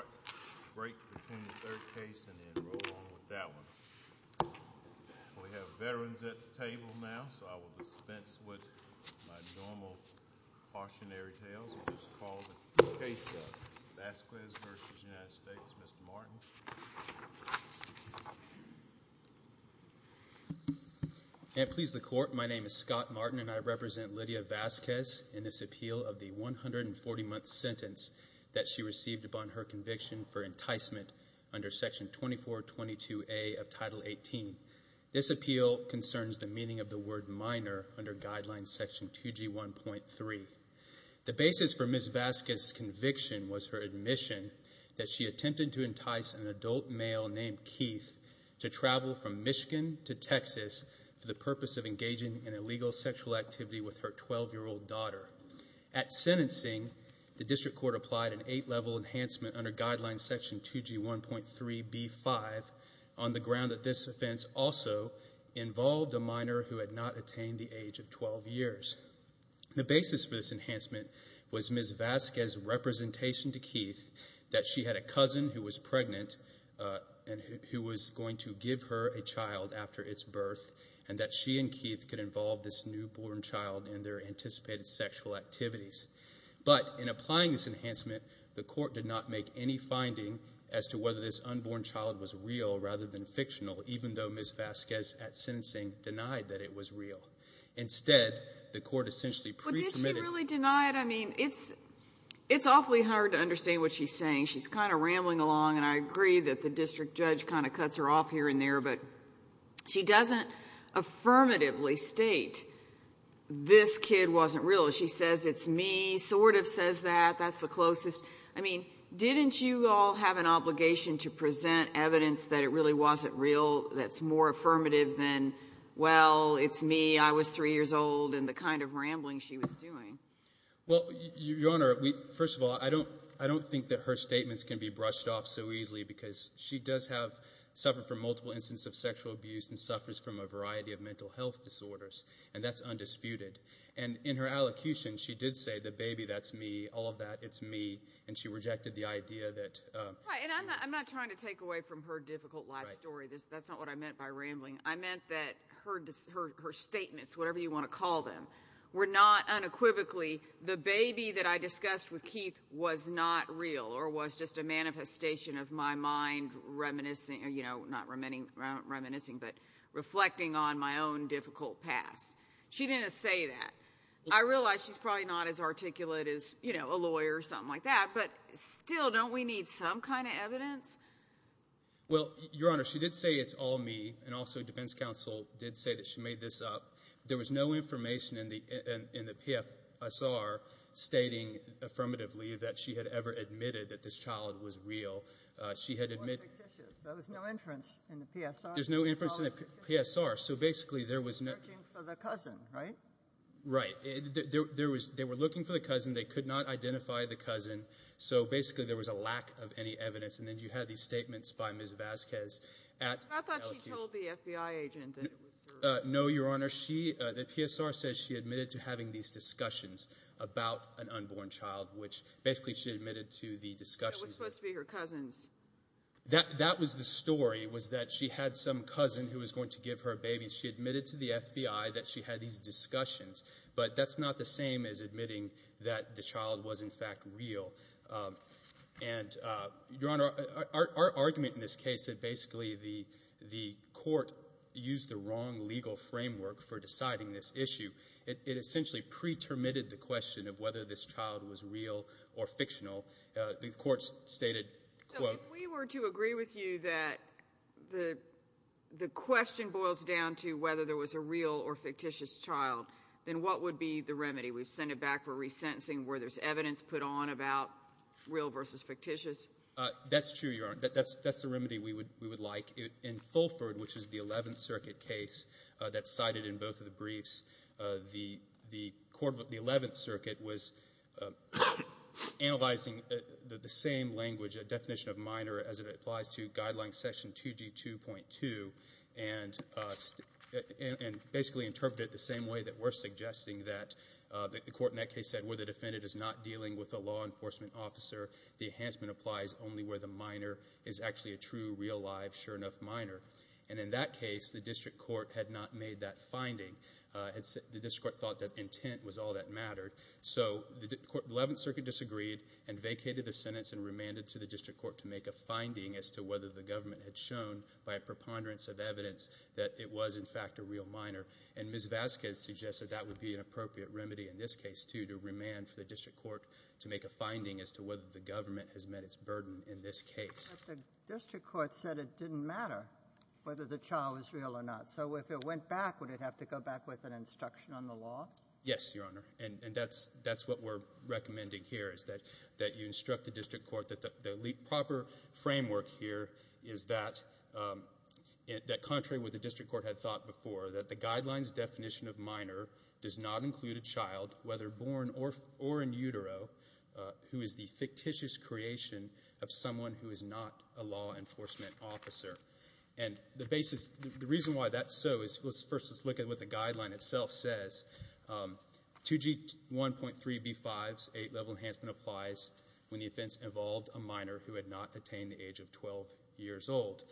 We have veterans at the table now, so I will dispense with my normal cautionary tales and just call the case Vasquez v. United States, Mr. Martin. And please the Court, my name is Scott Martin and I represent Lydia Vasquez in this appeal of the 140-month sentence that she received upon her conviction for enticement under Section 2422A of Title 18. This appeal concerns the meaning of the word minor under Guideline Section 2G1.3. The basis for Ms. Vasquez's conviction was her admission that she attempted to entice an adult male named Keith to travel from Michigan to Texas for the purpose of engaging in illegal sexual activity with her 12-year-old daughter. At sentencing, the District Court applied an eight-level enhancement under Guideline Section 2G1.3b5 on the ground that this offense also involved a minor who had not attained the age of 12 years. The basis for this enhancement was Ms. Vasquez's representation to Keith that she had a cousin who was pregnant and who was going to give her a child after its birth and that she and her newborn child in their anticipated sexual activities. But in applying this enhancement, the Court did not make any finding as to whether this unborn child was real rather than fictional, even though Ms. Vasquez at sentencing denied that it was real. Instead, the Court essentially pre-permitted... But did she really deny it? I mean, it's awfully hard to understand what she's saying. She's kind of rambling along and I agree that the District Judge kind of cuts her off here and there, but she doesn't affirmatively state, this kid wasn't real. She says, it's me, sort of says that, that's the closest. I mean, didn't you all have an obligation to present evidence that it really wasn't real that's more affirmative than, well, it's me, I was three years old, and the kind of rambling she was doing? Well, Your Honor, first of all, I don't think that her statements can be brushed off so as to say, this is a typical instance of sexual abuse and suffers from a variety of mental health disorders, and that's undisputed. And in her allocution, she did say, the baby, that's me, all of that, it's me, and she rejected the idea that... Right, and I'm not trying to take away from her difficult life story. That's not what I meant by rambling. I meant that her statements, whatever you want to call them, were not unequivocally, the baby that I discussed with Keith was not real or was just a manifestation of my mind reminiscing, you know, not reminiscing, but reflecting on my own difficult past. She didn't say that. I realize she's probably not as articulate as, you know, a lawyer or something like that, but still, don't we need some kind of evidence? Well, Your Honor, she did say it's all me, and also defense counsel did say that she made this up. There was no information in the PFSR stating affirmatively that she had ever admitted that this child was real. She had admitted... More fictitious. There was no inference in the PSR. There's no inference in the PSR, so basically there was no... Searching for the cousin, right? Right. There was... They were looking for the cousin. They could not identify the cousin, so basically there was a lack of any evidence, and then you had these statements by Ms. Vazquez at... I thought she told the FBI agent that it was her... No, Your Honor. She... The PSR says she admitted to having these discussions about an unborn child, which basically she admitted to the discussions... That was supposed to be her cousins. That was the story, was that she had some cousin who was going to give her a baby, and she admitted to the FBI that she had these discussions, but that's not the same as admitting that the child was, in fact, real. And Your Honor, our argument in this case is basically the court used the wrong legal framework for deciding this issue. It essentially pre-termited the question of whether this child was real or fictional. The court stated, quote... So if we were to agree with you that the question boils down to whether there was a real or fictitious child, then what would be the remedy? We've sent it back for resentencing where there's evidence put on about real versus fictitious. That's true, Your Honor. That's the remedy we would like. In Fulford, which is the 11th Circuit case that's cited in both of the briefs, the 11th Circuit was passing the same language, a definition of minor, as it applies to Guideline Section 2G2.2, and basically interpreted it the same way that we're suggesting, that the court in that case said where the defendant is not dealing with a law enforcement officer, the enhancement applies only where the minor is actually a true, real, live, sure enough minor. And in that case, the district court had not made that finding. The district court thought that intent was all that mattered. So the 11th Circuit disagreed and vacated the sentence and remanded to the district court to make a finding as to whether the government had shown by a preponderance of evidence that it was, in fact, a real minor. And Ms. Vasquez suggested that would be an appropriate remedy in this case, too, to remand for the district court to make a finding as to whether the government has met its burden in this case. But the district court said it didn't matter whether the child was real or not. So if it went back, would it have to go back with an instruction on the law? Yes, Your Honor. And that's what we're recommending here, is that you instruct the district court that the proper framework here is that contrary with what the district court had thought before, that the guidelines definition of minor does not include a child, whether born or in utero, who is the fictitious creation of someone who is not a law enforcement officer. And the basis, the reason why that's so is, first, let's look at what the guideline itself says. 2G1.3B5's eight-level enhancement applies when the offense involved a minor who had not attained the age of 12 years old.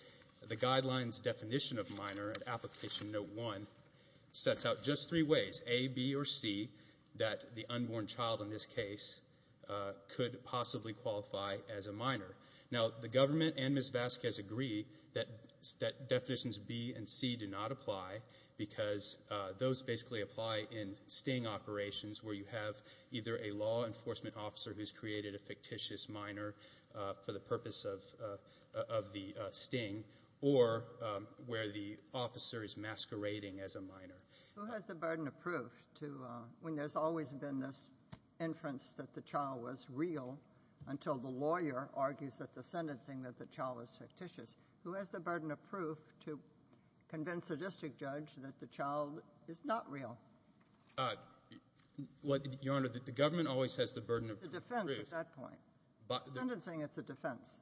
The guideline's definition of minor at Application Note 1 sets out just three ways, A, B, or C, that the unborn child in this case could possibly qualify as a minor. Now, the government and Ms. Vasquez agree that definitions B and C do not apply because those basically apply in sting operations where you have either a law enforcement officer who's created a fictitious minor for the purpose of the sting or where the officer is masquerading as a minor. Who has the burden of proof when there's always been this inference that the child was real until the lawyer argues at the sentencing that the child was fictitious? Who has the burden of proof to convince a district judge that the child is not real? Your Honor, the government always has the burden of proof. It's a defense at that point. At the sentencing, it's a defense.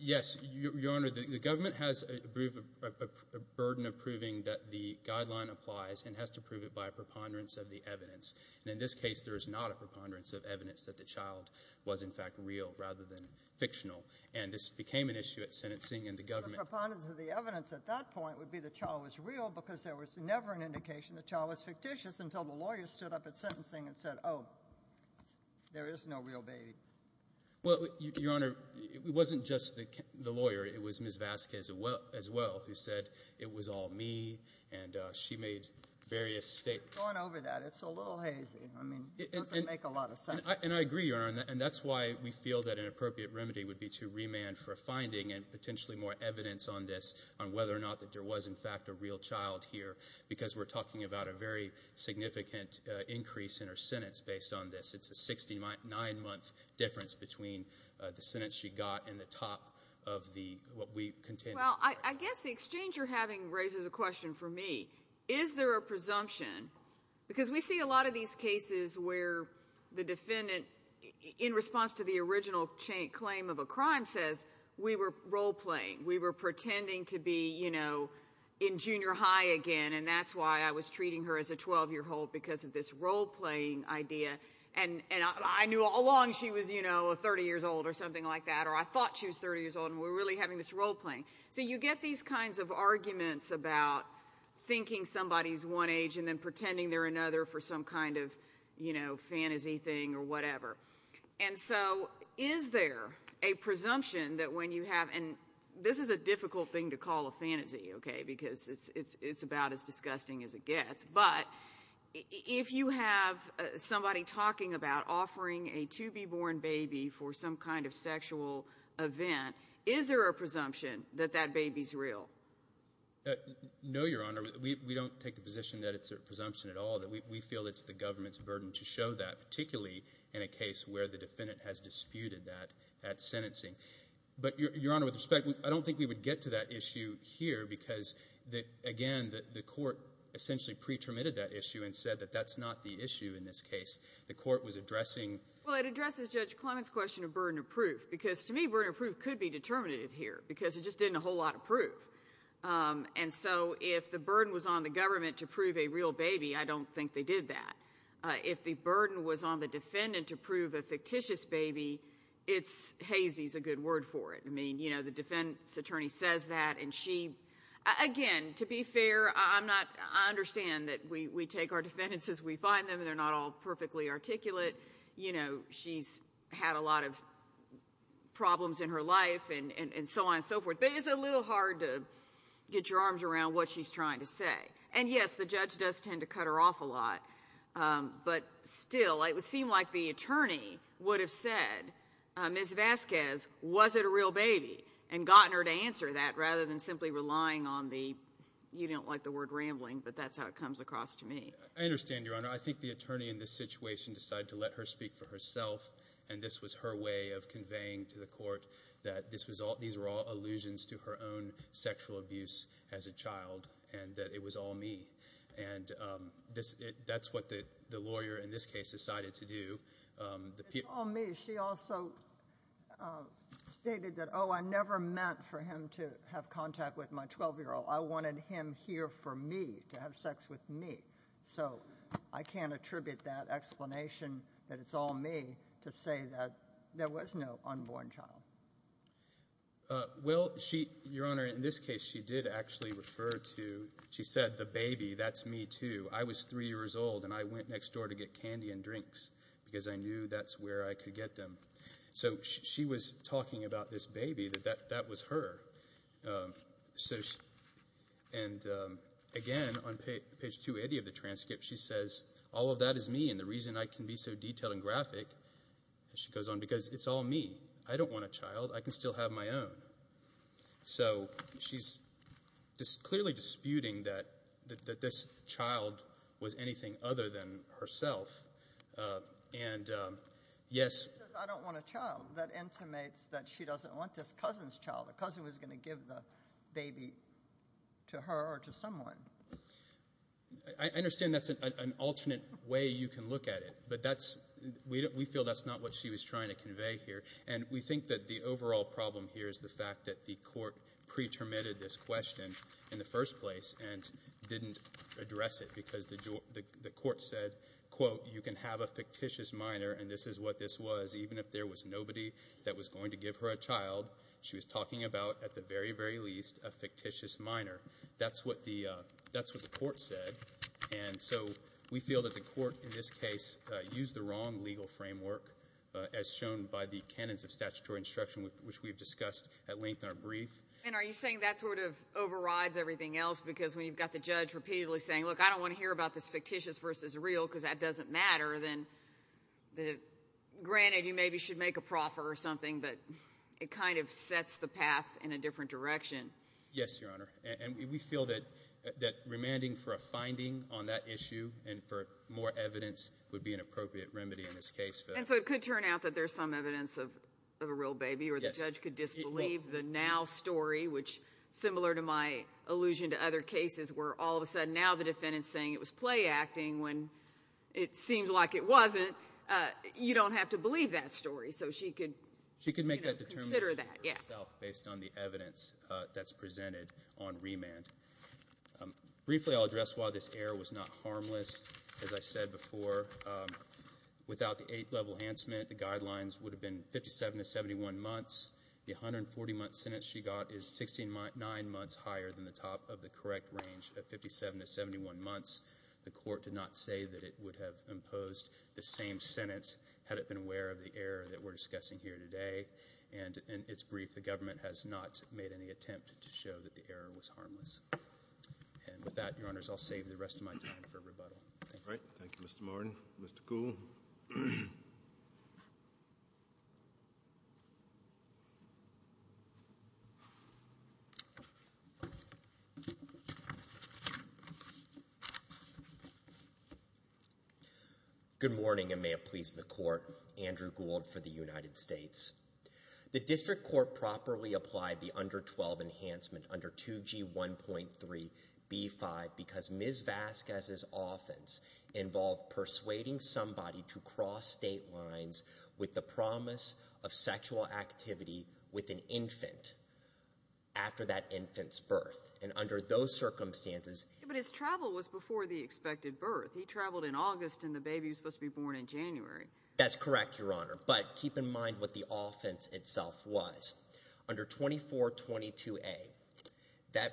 Yes, Your Honor, the government has a burden of proving that the guideline applies and has to prove it by a preponderance of the evidence. And in this case, there is not a preponderance of evidence that the child was, in fact, real rather than fictional. And this became an issue at sentencing in the government. The preponderance of the evidence at that point would be the child was real because there was never an indication the child was fictitious until the lawyer stood up at sentencing and said, oh, there is no real baby. Well, Your Honor, it wasn't just the lawyer. It was Ms. Vasquez as well who said it was all me and she made various statements. Go on over that. It's a little hazy. And I agree, Your Honor. And that's why we feel that an appropriate remedy would be to remand for a finding and potentially more evidence on this on whether or not that there was, in fact, a real child here because we're talking about a very significant increase in her sentence based on this. It's a 69-month difference between the sentence she got and the top of what we contended. Well, I guess the exchange you're having raises a question for me. Is there a presumption, because we see a lot of these cases where the defendant, in response to the original claim of a crime, says we were role-playing, we were pretending to be, you know, in junior high again and that's why I was treating her as a 12-year-old because of this role-playing idea and I knew all along she was, you know, 30 years old or something like that or I thought she was 30 years old and we're really having this role-playing. So you get these kinds of arguments about thinking somebody's one age and then pretending they're another for some kind of, you know, fantasy thing or whatever. And so is there a presumption that when you have, and this is a difficult thing to call a fantasy, okay, because it's about as disgusting as it gets, but if you have somebody talking about offering a to-be-born baby for some kind of sexual event, is there a presumption that that baby's real? No, Your Honor. We don't take the position that it's a presumption at all. We feel it's the government's burden to show that, particularly in a case where the defendant has disputed that at sentencing. But Your Honor, with respect, I don't think we would get to that issue here because, again, the court essentially pre-terminated that issue and said that that's not the issue in this case. The court was addressing — Well, it addresses Judge Clement's question of burden of proof because, to me, burden of proof could be determinative here because it just didn't a whole lot of proof. And so if the burden was on the government to prove a real baby, I don't think they did that. If the burden was on the defendant to prove a fictitious baby, it's — hazy's a good word for it. I mean, you know, the defendant's attorney says that, and she — again, to be fair, I'm not — I understand that we take our defendants as we find them and they're not all perfectly articulate. You know, she's had a lot of problems in her life and so on and so forth, but it's a little hard to get your arms around what she's trying to say. And yes, the judge does tend to cut her off a lot. But still, it would seem like the attorney would have said, Ms. Vasquez, was it a real baby and gotten her to answer that rather than simply relying on the — you don't like the word rambling, but that's how it comes across to me. I understand, Your Honor. I think the attorney in this situation decided to let her speak for herself, and this was her way of conveying to the court that this was all — these were all allusions to her own sexual abuse as a child and that it was all me. And this — that's what the lawyer in this case decided to do. The — It's all me. She also stated that, oh, I never meant for him to have contact with my 12-year-old. I wanted him here for me, to have sex with me. So I can't attribute that explanation that it's all me to say that there was no unborn child. Well, she — Your Honor, in this case, she did actually refer to — she said, the baby, that's me, too. I was 3 years old, and I went next door to get candy and drinks because I knew that's where I could get them. So she was talking about this baby, that that was her. So — and again, on page 280 of the transcript, she says, all of that is me, and the reason I can be so detailed and graphic — and she goes on — because it's all me. I don't want a child. I can still have my own. So she's clearly disputing that this child was anything other than herself. And yes — She says, I don't want a child. That intimates that she doesn't want this cousin's child. A cousin was going to give the baby to her or to someone. I understand that's an alternate way you can look at it, but that's — we feel that's not what she was trying to convey here. And we think that the overall problem here is the fact that the court pre-terminated this question in the first place and didn't address it because the court said, quote, you can have a fictitious minor, and this is what this was, even if there was nobody that was going to give her a child. She was talking about, at the very, very least, a fictitious minor. That's what the court said. And so we feel that the court, in this case, used the wrong legal framework, as shown by the canons of statutory instruction, which we've discussed at length in our brief. And are you saying that sort of overrides everything else? Because when you've got the judge repeatedly saying, look, I don't want to hear about this fictitious versus real because that doesn't matter, then — granted, you maybe should make a proffer or something, but it kind of sets the path in a different direction. Yes, Your Honor. And we feel that remanding for a finding on that issue and for more evidence would be an appropriate remedy in this case. And so it could turn out that there's some evidence of a real baby, or the judge could disbelieve the now story, which, similar to my allusion to other cases, where all of a sudden, now the defendant's saying it was play acting when it seemed like it wasn't. You don't have to believe that story. So she could — She could make that determination herself based on the evidence that's presented on remand. Briefly, I'll address why this error was not harmless, as I said before. Without the eighth-level enhancement, the guidelines would have been 57 to 71 months. The 140-month sentence she got is 69 months higher than the top of the correct range of 57 to 71 months. The court did not say that it would have imposed the same sentence had it been aware of the error that we're discussing here today. And it's brief. The government has not made any attempt to show that the error was harmless. And with that, Your Honors, I'll save the rest of my time for rebuttal. Thank you. All right. Thank you, Mr. Martin. Mr. Kuhl. Good morning, and may it please the Court. Andrew Gould for the United States. The district court properly applied the under-12 enhancement under 2G1.3b5 because Ms. Vasquez's cross-state lines with the promise of sexual activity with an infant after that infant's birth. And under those circumstances — But his travel was before the expected birth. He traveled in August, and the baby was supposed to be born in January. That's correct, Your Honor, but keep in mind what the offense itself was. Under 2422a, that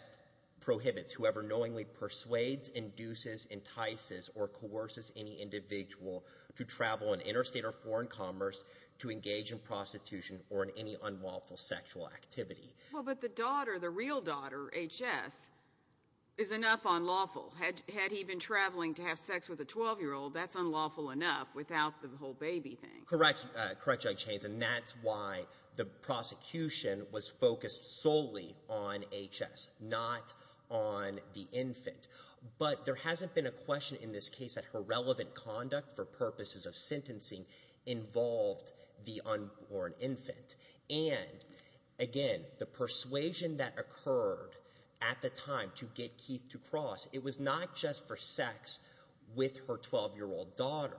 prohibits whoever knowingly persuades, induces, entices, or coerces any individual to travel in interstate or foreign commerce to engage in prostitution or in any unlawful sexual activity. Well, but the daughter, the real daughter, H.S., is enough unlawful. Had he been traveling to have sex with a 12-year-old, that's unlawful enough without the whole baby thing. Correct. Correct, Judge Haynes. And that's why the prosecution was focused solely on H.S., not on the infant. But there hasn't been a question in this case that her relevant conduct for purposes of sentencing involved the unborn infant. And, again, the persuasion that occurred at the time to get Keith to cross, it was not just for sex with her 12-year-old daughter,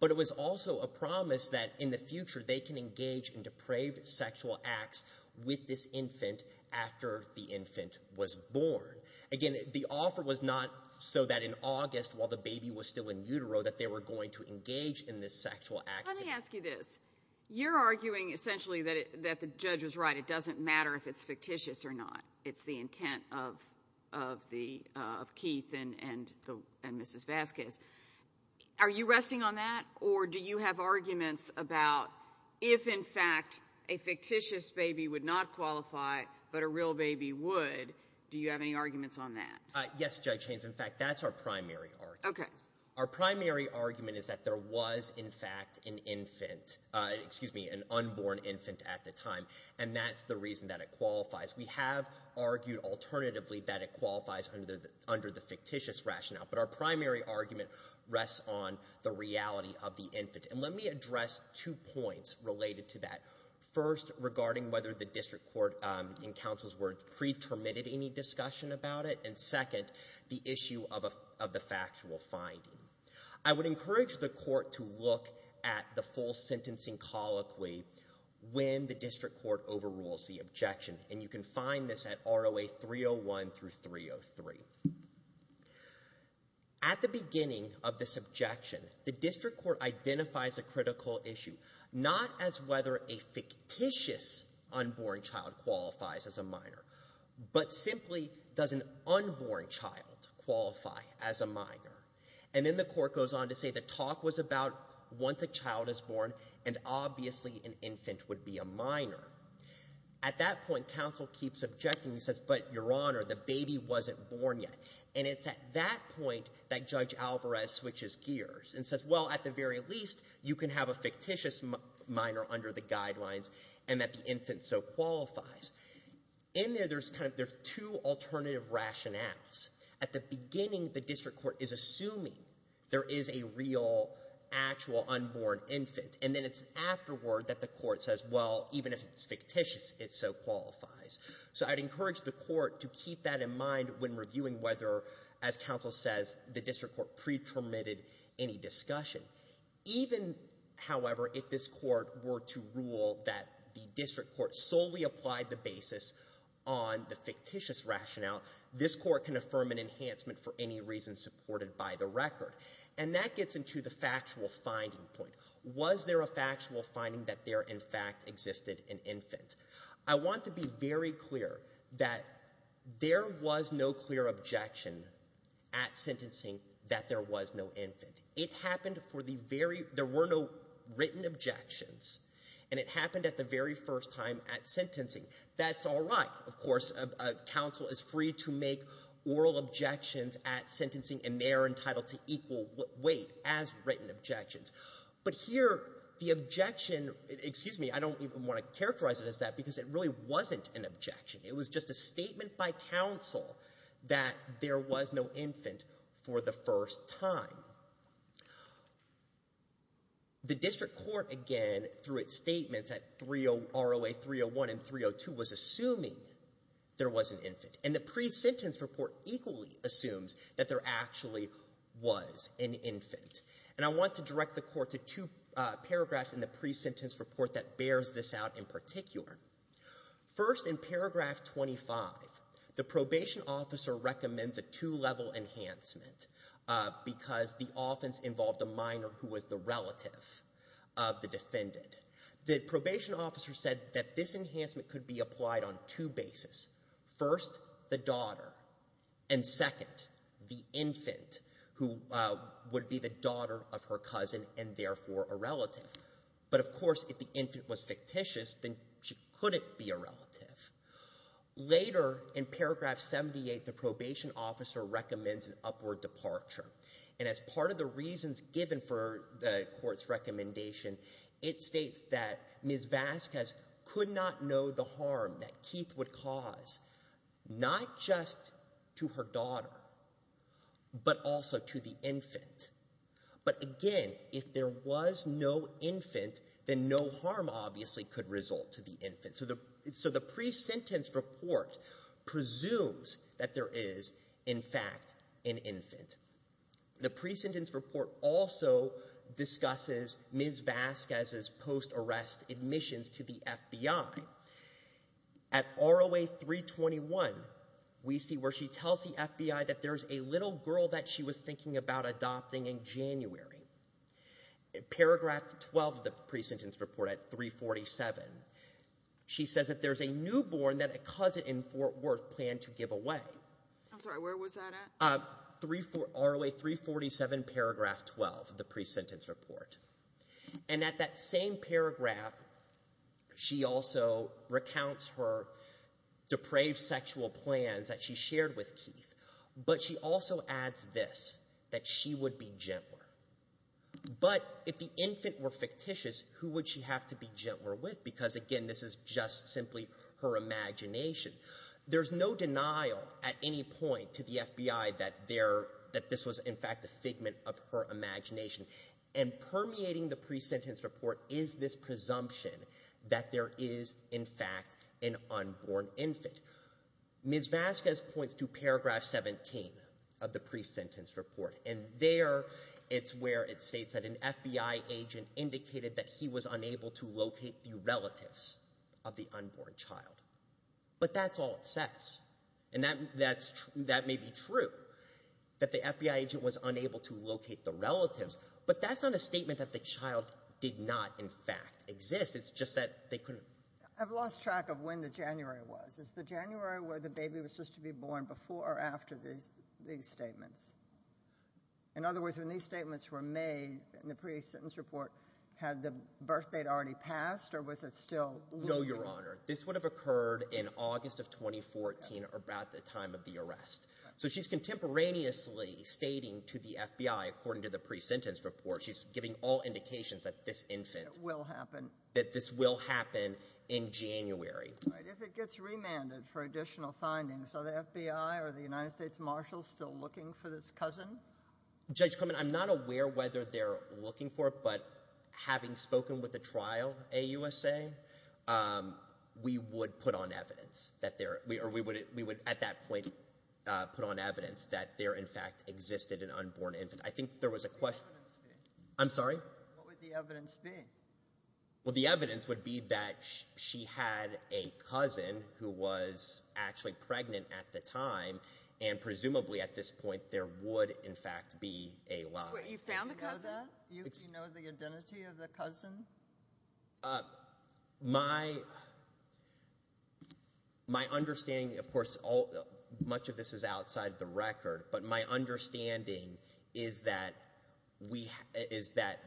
but it was also a promise that in the future they can engage in depraved sexual acts with this infant after the infant was born. Again, the offer was not so that in August, while the baby was still in utero, that they were going to engage in this sexual activity. Let me ask you this. You're arguing, essentially, that the judge was right. It doesn't matter if it's fictitious or not. It's the intent of Keith and Mrs. Vasquez. Are you resting on that, or do you have arguments about if, in fact, a fictitious baby would not qualify, but a real baby would, do you have any arguments on that? Yes, Judge Haynes. In fact, that's our primary argument. Our primary argument is that there was, in fact, an infant, excuse me, an unborn infant at the time, and that's the reason that it qualifies. We have argued, alternatively, that it qualifies under the fictitious rationale, but our primary argument rests on the reality of the infant. And let me address two points related to that. First, regarding whether the district court, in counsel's words, pre-terminated any discussion about it, and second, the issue of the factual finding. I would encourage the court to look at the full sentencing colloquy when the district court overrules the objection, and you can find this at ROA 301 through 303. At the beginning of this objection, the district court identifies a critical issue, not as to whether a fictitious unborn child qualifies as a minor, but simply, does an unborn child qualify as a minor? And then the court goes on to say the talk was about, once a child is born, and obviously an infant would be a minor. At that point, counsel keeps objecting and says, but your honor, the baby wasn't born yet. And it's at that point that Judge Alvarez switches gears and says, well, at the very least, you can have a fictitious minor under the guidelines, and that the infant so qualifies. In there, there's two alternative rationales. At the beginning, the district court is assuming there is a real, actual unborn infant, and then it's afterward that the court says, well, even if it's fictitious, it so qualifies. So I'd encourage the court to keep that in mind when reviewing whether, as counsel says, the district court pre-permitted any discussion. Even, however, if this court were to rule that the district court solely applied the basis on the fictitious rationale, this court can affirm an enhancement for any reason supported by the record. And that gets into the factual finding point. Was there a factual finding that there, in fact, existed an infant? I want to be very clear that there was no clear objection at sentencing that there was no infant. It happened for the very, there were no written objections, and it happened at the very first time at sentencing. That's all right. Of course, counsel is free to make oral objections at sentencing, and they are entitled to equal weight as written objections. But here, the objection, excuse me, I don't even want to characterize it as that because it really wasn't an objection. It was just a statement by counsel that there was no infant for the first time. The district court, again, through its statements at ROA 301 and 302 was assuming there was an infant. And the pre-sentence report equally assumes that there actually was an infant. And I want to direct the court to two paragraphs in the pre-sentence report that bears this out in particular. First in paragraph 25, the probation officer recommends a two-level enhancement because the offense involved a minor who was the relative of the defendant. The probation officer said that this enhancement could be applied on two bases. First, the daughter, and second, the infant who would be the daughter of her cousin and therefore a relative. But, of course, if the infant was fictitious, then she couldn't be a relative. Later, in paragraph 78, the probation officer recommends an upward departure. And as part of the reasons given for the court's recommendation, it states that Ms. Vasquez could not know the harm that Keith would cause, not just to her daughter, but also to the infant. But, again, if there was no infant, then no harm obviously could result to the infant. So the pre-sentence report presumes that there is, in fact, an infant. The pre-sentence report also discusses Ms. Vasquez's post-arrest admissions to the FBI. At ROA 321, we see where she tells the FBI that there's a little girl that she was thinking about adopting in January. In paragraph 12 of the pre-sentence report, at 347, she says that there's a newborn that a cousin in Fort Worth planned to give away. I'm sorry, where was that at? ROA 347, paragraph 12 of the pre-sentence report. And at that same paragraph, she also recounts her depraved sexual plans that she shared with Keith. But she also adds this, that she would be gentler. But if the infant were fictitious, who would she have to be gentler with? Because, again, this is just simply her imagination. There's no denial at any point to the FBI that this was, in fact, a figment of her imagination. And permeating the pre-sentence report is this presumption that there is, in fact, an unborn infant. Ms. Vasquez points to paragraph 17 of the pre-sentence report, and there it's where it states that an FBI agent indicated that he was unable to locate the relatives of the unborn child. But that's all it says. And that may be true, that the FBI agent was unable to locate the relatives. But that's not a statement that the child did not, in fact, exist. It's just that they couldn't. I've lost track of when the January was. Is the January where the baby was supposed to be born before or after these statements? In other words, when these statements were made in the pre-sentence report, had the birth date already passed, or was it still looming? No, Your Honor. This would have occurred in August of 2014, about the time of the arrest. So she's contemporaneously stating to the FBI, according to the pre-sentence report, she's giving all indications that this infant will happen, that this will happen in January. All right. If it gets remanded for additional findings, are the FBI or the United States Marshals still looking for this cousin? Judge Clement, I'm not aware whether they're looking for it, but having spoken with the we would put on evidence that there—or we would, at that point, put on evidence that there, in fact, existed an unborn infant. I think there was a question— What would the evidence be? I'm sorry? What would the evidence be? Well, the evidence would be that she had a cousin who was actually pregnant at the time, and presumably, at this point, there would, in fact, be a lie. You found the cousin? Do you know the identity of the cousin? My—my understanding, of course, all—much of this is outside the record, but my understanding is that we—is that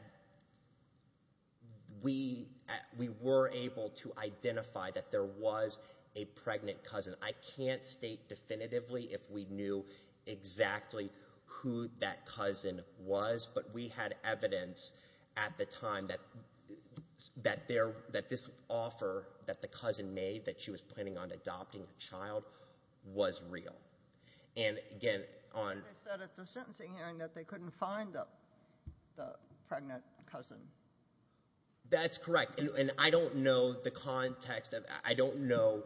we were able to identify that there was a pregnant cousin. I can't state definitively if we knew exactly who that cousin was, but we had evidence at the time that—that there—that this offer that the cousin made, that she was planning on adopting a child, was real. And again, on— But they said at the sentencing hearing that they couldn't find the—the pregnant cousin. That's correct. And I don't know the context of—I don't know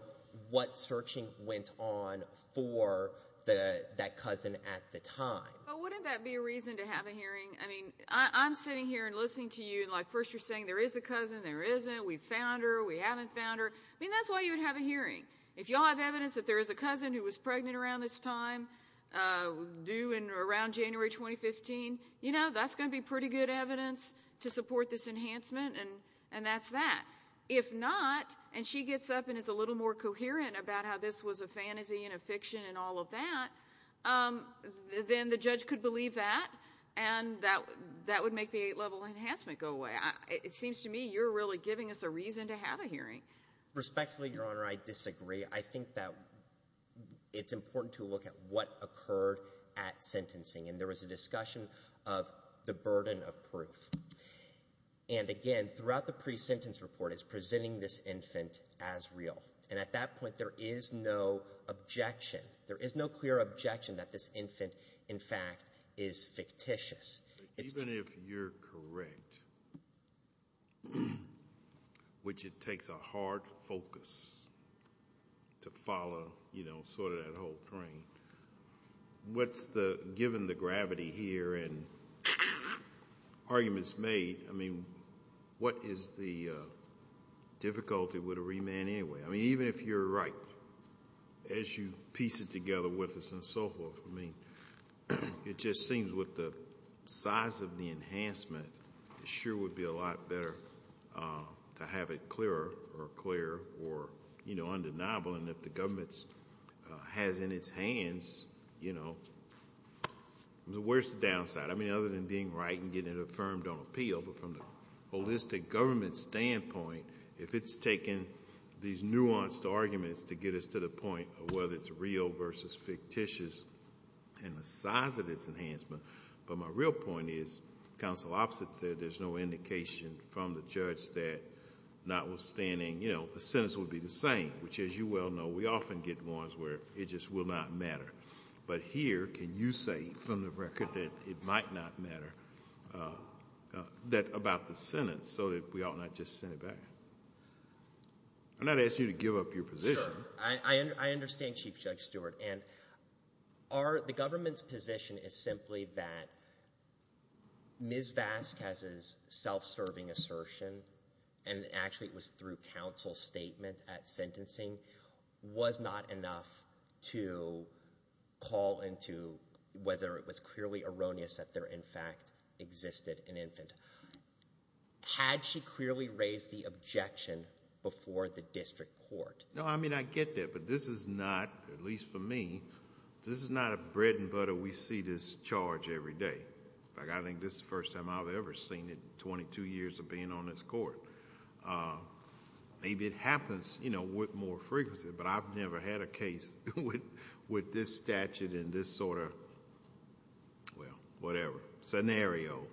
what searching went on for that cousin at the time. But wouldn't that be a reason to have a hearing? I mean, I'm sitting here and listening to you, and like, first you're saying there is a cousin, there isn't, we found her, we haven't found her. I mean, that's why you would have a hearing. If you all have evidence that there is a cousin who was pregnant around this time, due in—around January 2015, you know, that's going to be pretty good evidence to support this enhancement, and that's that. If not, and she gets up and is a little more coherent about how this was a fantasy and fiction and all of that, then the judge could believe that, and that would make the Eight-Level Enhancement go away. It seems to me you're really giving us a reason to have a hearing. Respectfully, Your Honor, I disagree. I think that it's important to look at what occurred at sentencing, and there was a discussion of the burden of proof. And again, throughout the pre-sentence report, it's presenting this infant as real. And at that point, there is no objection. There is no clear objection that this infant, in fact, is fictitious. Even if you're correct, which it takes a hard focus to follow, you know, sort of that whole train, what's the—given the gravity here and arguments made, I mean, what is the difficulty with a remand anyway? I mean, even if you're right, as you piece it together with us and so forth, I mean, it just seems with the size of the enhancement, it sure would be a lot better to have it clearer or clear or undeniable, and if the government has in its hands, you know, where's the downside? I mean, other than being right and getting it affirmed on appeal, but from the holistic government standpoint, if it's taken these nuanced arguments to get us to the point of whether it's real versus fictitious and the size of this enhancement, but my real point is, counsel opposite said there's no indication from the judge that notwithstanding, you know, the sentence would be the same, which as you well know, we often get ones where it just will not matter. But here, can you say from the record that it might not matter, that—about the sentence, so that we ought not just send it back? I'm not asking you to give up your position. I understand, Chief Judge Stewart, and the government's position is simply that Ms. Vasquez's self-serving assertion, and actually it was through counsel's statement at sentencing, was not enough to call into whether it was clearly erroneous that there in fact existed an infant. Had she clearly raised the objection before the district court? No, I mean, I get that, but this is not, at least for me, this is not a bread and butter we see this charge every day. In fact, I think this is the first time I've ever seen it in 22 years of being on this court. Maybe it happens, you know, with more frequency, but I've never had a case with this statute in this sort of, well, whatever, scenario.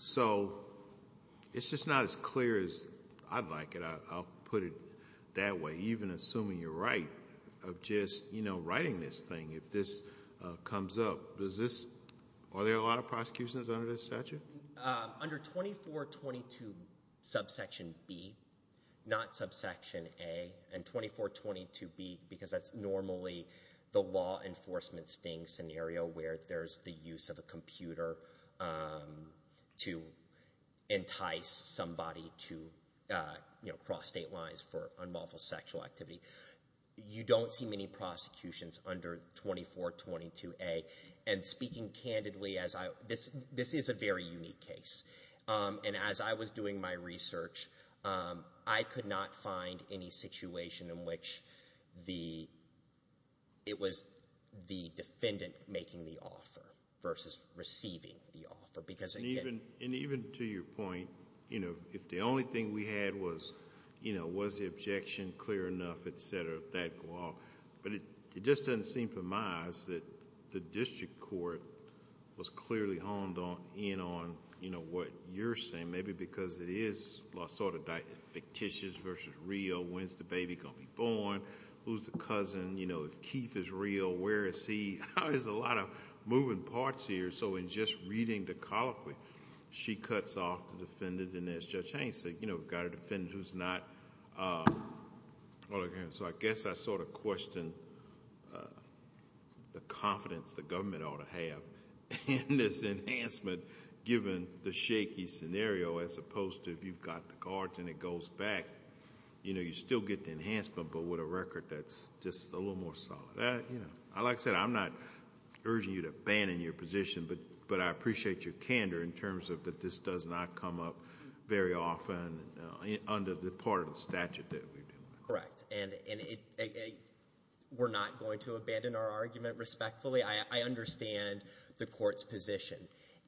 So it's just not as clear as I'd like it, I'll put it that way. Even assuming you're right, of just, you know, writing this thing, if this comes up, does this—are there a lot of prosecutions under this statute? I mean, under 2422 subsection B, not subsection A, and 2422B, because that's normally the law enforcement sting scenario where there's the use of a computer to entice somebody to, you know, cross state lines for unlawful sexual activity. You don't see many prosecutions under 2422A. And speaking candidly, as I—this is a very unique case. And as I was doing my research, I could not find any situation in which the—it was the defendant making the offer versus receiving the offer, because again— And even to your point, you know, if the only thing we had was, you know, was the objection clear enough, et cetera, that go off. But it just doesn't seem to my eyes that the district court was clearly honed in on, you know, what you're saying, maybe because it is sort of fictitious versus real, when's the baby going to be born, who's the cousin, you know, if Keith is real, where is he? There's a lot of moving parts here. So in just reading the colloquy, she cuts off the defendant, and as Judge Haines said, you know, we've got a defendant who's not— So I guess I sort of question the confidence the government ought to have in this enhancement, given the shaky scenario, as opposed to if you've got the cards and it goes back, you know, you still get the enhancement, but with a record that's just a little more solid. Like I said, I'm not urging you to abandon your position, but I appreciate your candor in terms of that this does not come up very often under the part of the statute that we're dealing with. Correct. And we're not going to abandon our argument respectfully. I understand the court's position,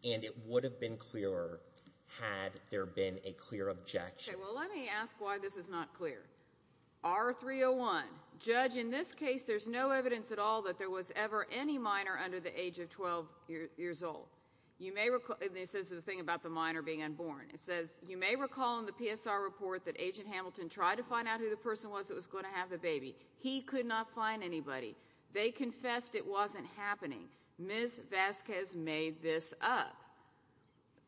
and it would have been clearer had there been a clear objection. Okay. Well, let me ask why this is not clear. R-301. Judge, in this case, there's no evidence at all that there was ever any minor under the age of 12 years old. You may recall—and this is the thing about the minor being unborn. It says, you may recall in the PSR report that Agent Hamilton tried to find out who the person was that was going to have the baby. He could not find anybody. They confessed it wasn't happening. Ms. Vasquez made this up.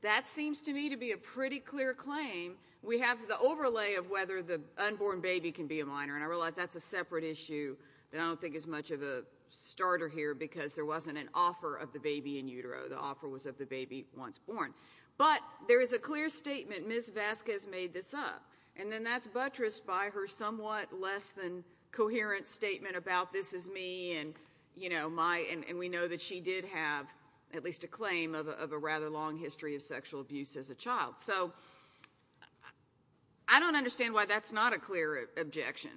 That seems to me to be a pretty clear claim. We have the overlay of whether the unborn baby can be a minor, and I realize that's a separate issue that I don't think is much of a starter here because there wasn't an offer of the baby in utero. The offer was of the baby once born. But there is a clear statement, Ms. Vasquez made this up, and then that's buttressed by her somewhat less than coherent statement about this is me and, you know, my—and we know that she did have at least a claim of a rather long history of sexual abuse as a child. So I don't understand why that's not a clear objection.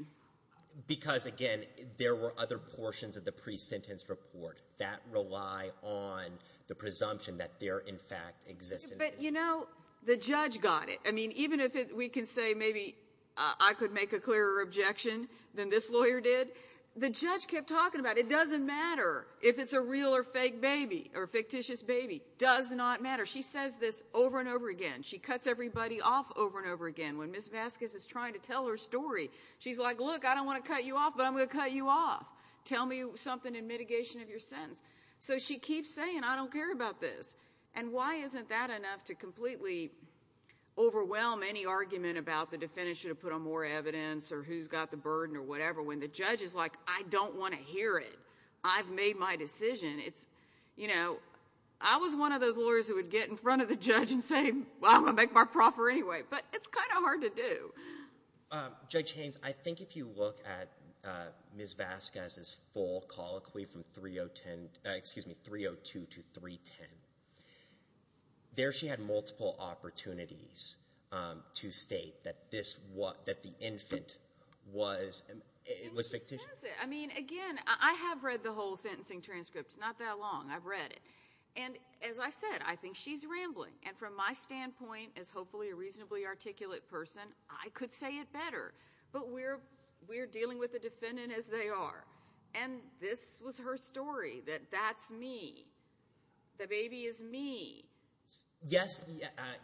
Because, again, there were other portions of the pre-sentence report that rely on the presumption that there in fact existed. But, you know, the judge got it. I mean, even if we can say maybe I could make a clearer objection than this lawyer did, the judge kept talking about it doesn't matter if it's a real or fake baby or fictitious baby. Does not matter. She says this over and over again. She cuts everybody off over and over again. When Ms. Vasquez is trying to tell her story, she's like, look, I don't want to cut you off, but I'm going to cut you off. Tell me something in mitigation of your sentence. So she keeps saying, I don't care about this. And why isn't that enough to completely overwhelm any argument about the defendant should have put on more evidence or who's got the burden or whatever, when the judge is like, I don't want to hear it. I've made my decision. It's, you know, I was one of those lawyers who would get in front of the judge and say, well, I'm going to make my proffer anyway. But it's kind of hard to do. Judge Haynes, I think if you look at Ms. Vasquez's full colloquy from 302 to 310, there she had multiple opportunities to state that this was, that the infant was, it was fictitious. I mean, again, I have read the whole sentencing transcript. Not that long. I've read it. And as I said, I think she's rambling. And from my standpoint, as hopefully a reasonably articulate person, I could say it better. But we're, we're dealing with the defendant as they are. And this was her story that that's me. The baby is me. Yes.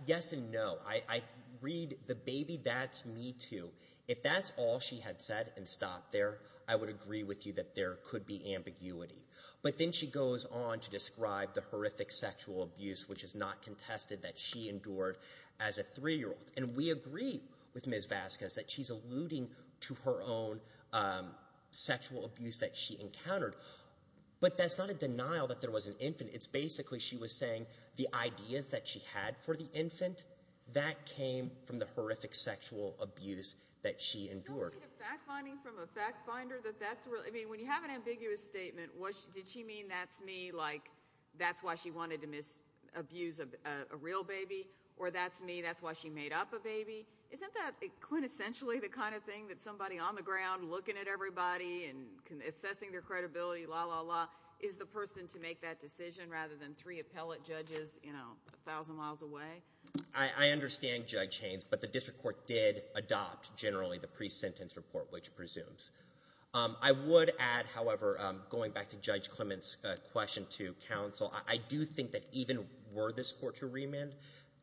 Yes. And no, I read the baby. That's me too. If that's all she had said and stopped there, I would agree with you that there could be ambiguity. But then she goes on to describe the horrific sexual abuse, which is not contested that she endured as a three-year-old. And we agree with Ms. Vasquez that she's alluding to her own sexual abuse that she encountered. But that's not a denial that there was an infant. It's basically, she was saying the ideas that she had for the infant, that came from the horrific sexual abuse that she endured. I don't read a fact-finding from a fact-finder that that's real. I mean, when you have an ambiguous statement, did she mean that's me, like that's why she wanted to abuse a real baby? Or that's me, that's why she made up a baby? Isn't that quintessentially the kind of thing that somebody on the ground looking at everybody and assessing their credibility, la, la, la, is the person to make that decision rather than three appellate judges, you know, a thousand miles away? I understand Judge Haynes, but the district court did adopt, generally, the pre-sentence report, which presumes. I would add, however, going back to Judge Clement's question to counsel, I do think that even were this court to remand,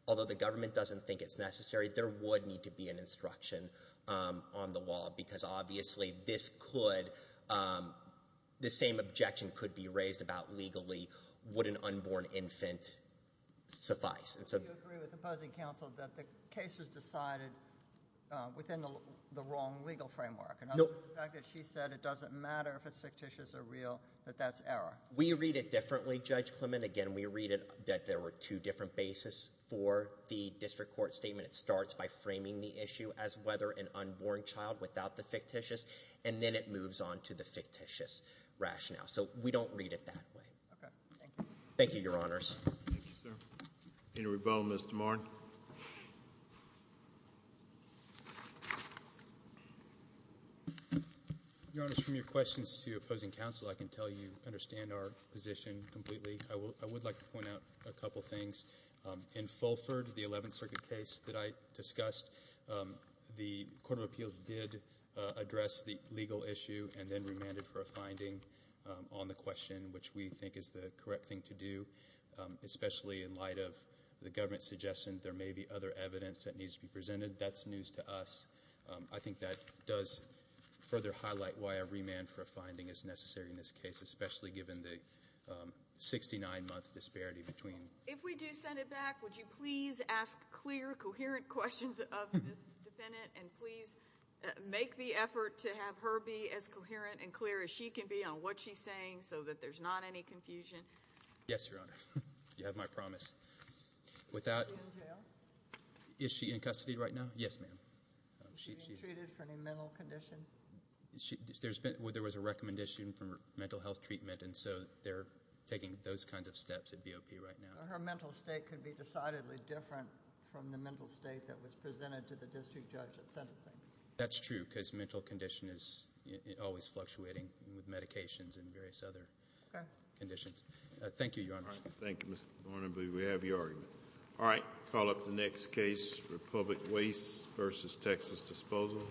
although the government doesn't think it's necessary, there would need to be an instruction on the wall. Because obviously, this could, the same objection could be raised about legally, would an unborn infant suffice? Do you agree with the opposing counsel that the case was decided within the wrong legal framework? No. The fact that she said it doesn't matter if it's fictitious or real, that that's error? We read it differently, Judge Clement. Again, we read it that there were two different bases for the district court statement. It starts by framing the issue as whether an unborn child without the fictitious, and then it moves on to the fictitious rationale. So we don't read it that way. Okay. Thank you. Thank you, Your Honors. Thank you, sir. Any rebuttal, Mr. Marn? Your Honors, from your questions to opposing counsel, I can tell you understand our position completely. I would like to point out a couple things. In Fulford, the Eleventh Circuit case that I discussed, the Court of Appeals did address the legal issue and then remanded for a finding on the question, which we think is the correct thing to do, especially in light of the government's suggestion that there may be other evidence that needs to be presented. That's news to us. I think that does further highlight why a remand for a finding is necessary in this case, especially given the 69-month disparity between... If we do send it back, would you please ask clear, coherent questions of this defendant, and please make the effort to have her be as coherent and clear as she can be on what she's saying, so that there's not any confusion? Yes, Your Honor. You have my promise. Is she in jail? Is she in custody right now? Yes, ma'am. Is she being treated for any mental condition? There was a recommendation for mental health treatment, and so they're taking those kinds of steps at BOP right now. So her mental state could be decidedly different from the mental state that was presented to the district judge at sentencing? Thank you. Thank you. Thank you. Thank you. Thank you. Thank you. Thank you. Thank you. Thank you. Thank you. Thank you. If she's not- Are there any other comments or questions regarding the issues presented today and other conditions? Okay. Thank you, Your Honor. Thank you, Mr. Barnaby. We have your opinion. All right. Call up the next case, Republic Waste v. Texas Disposal.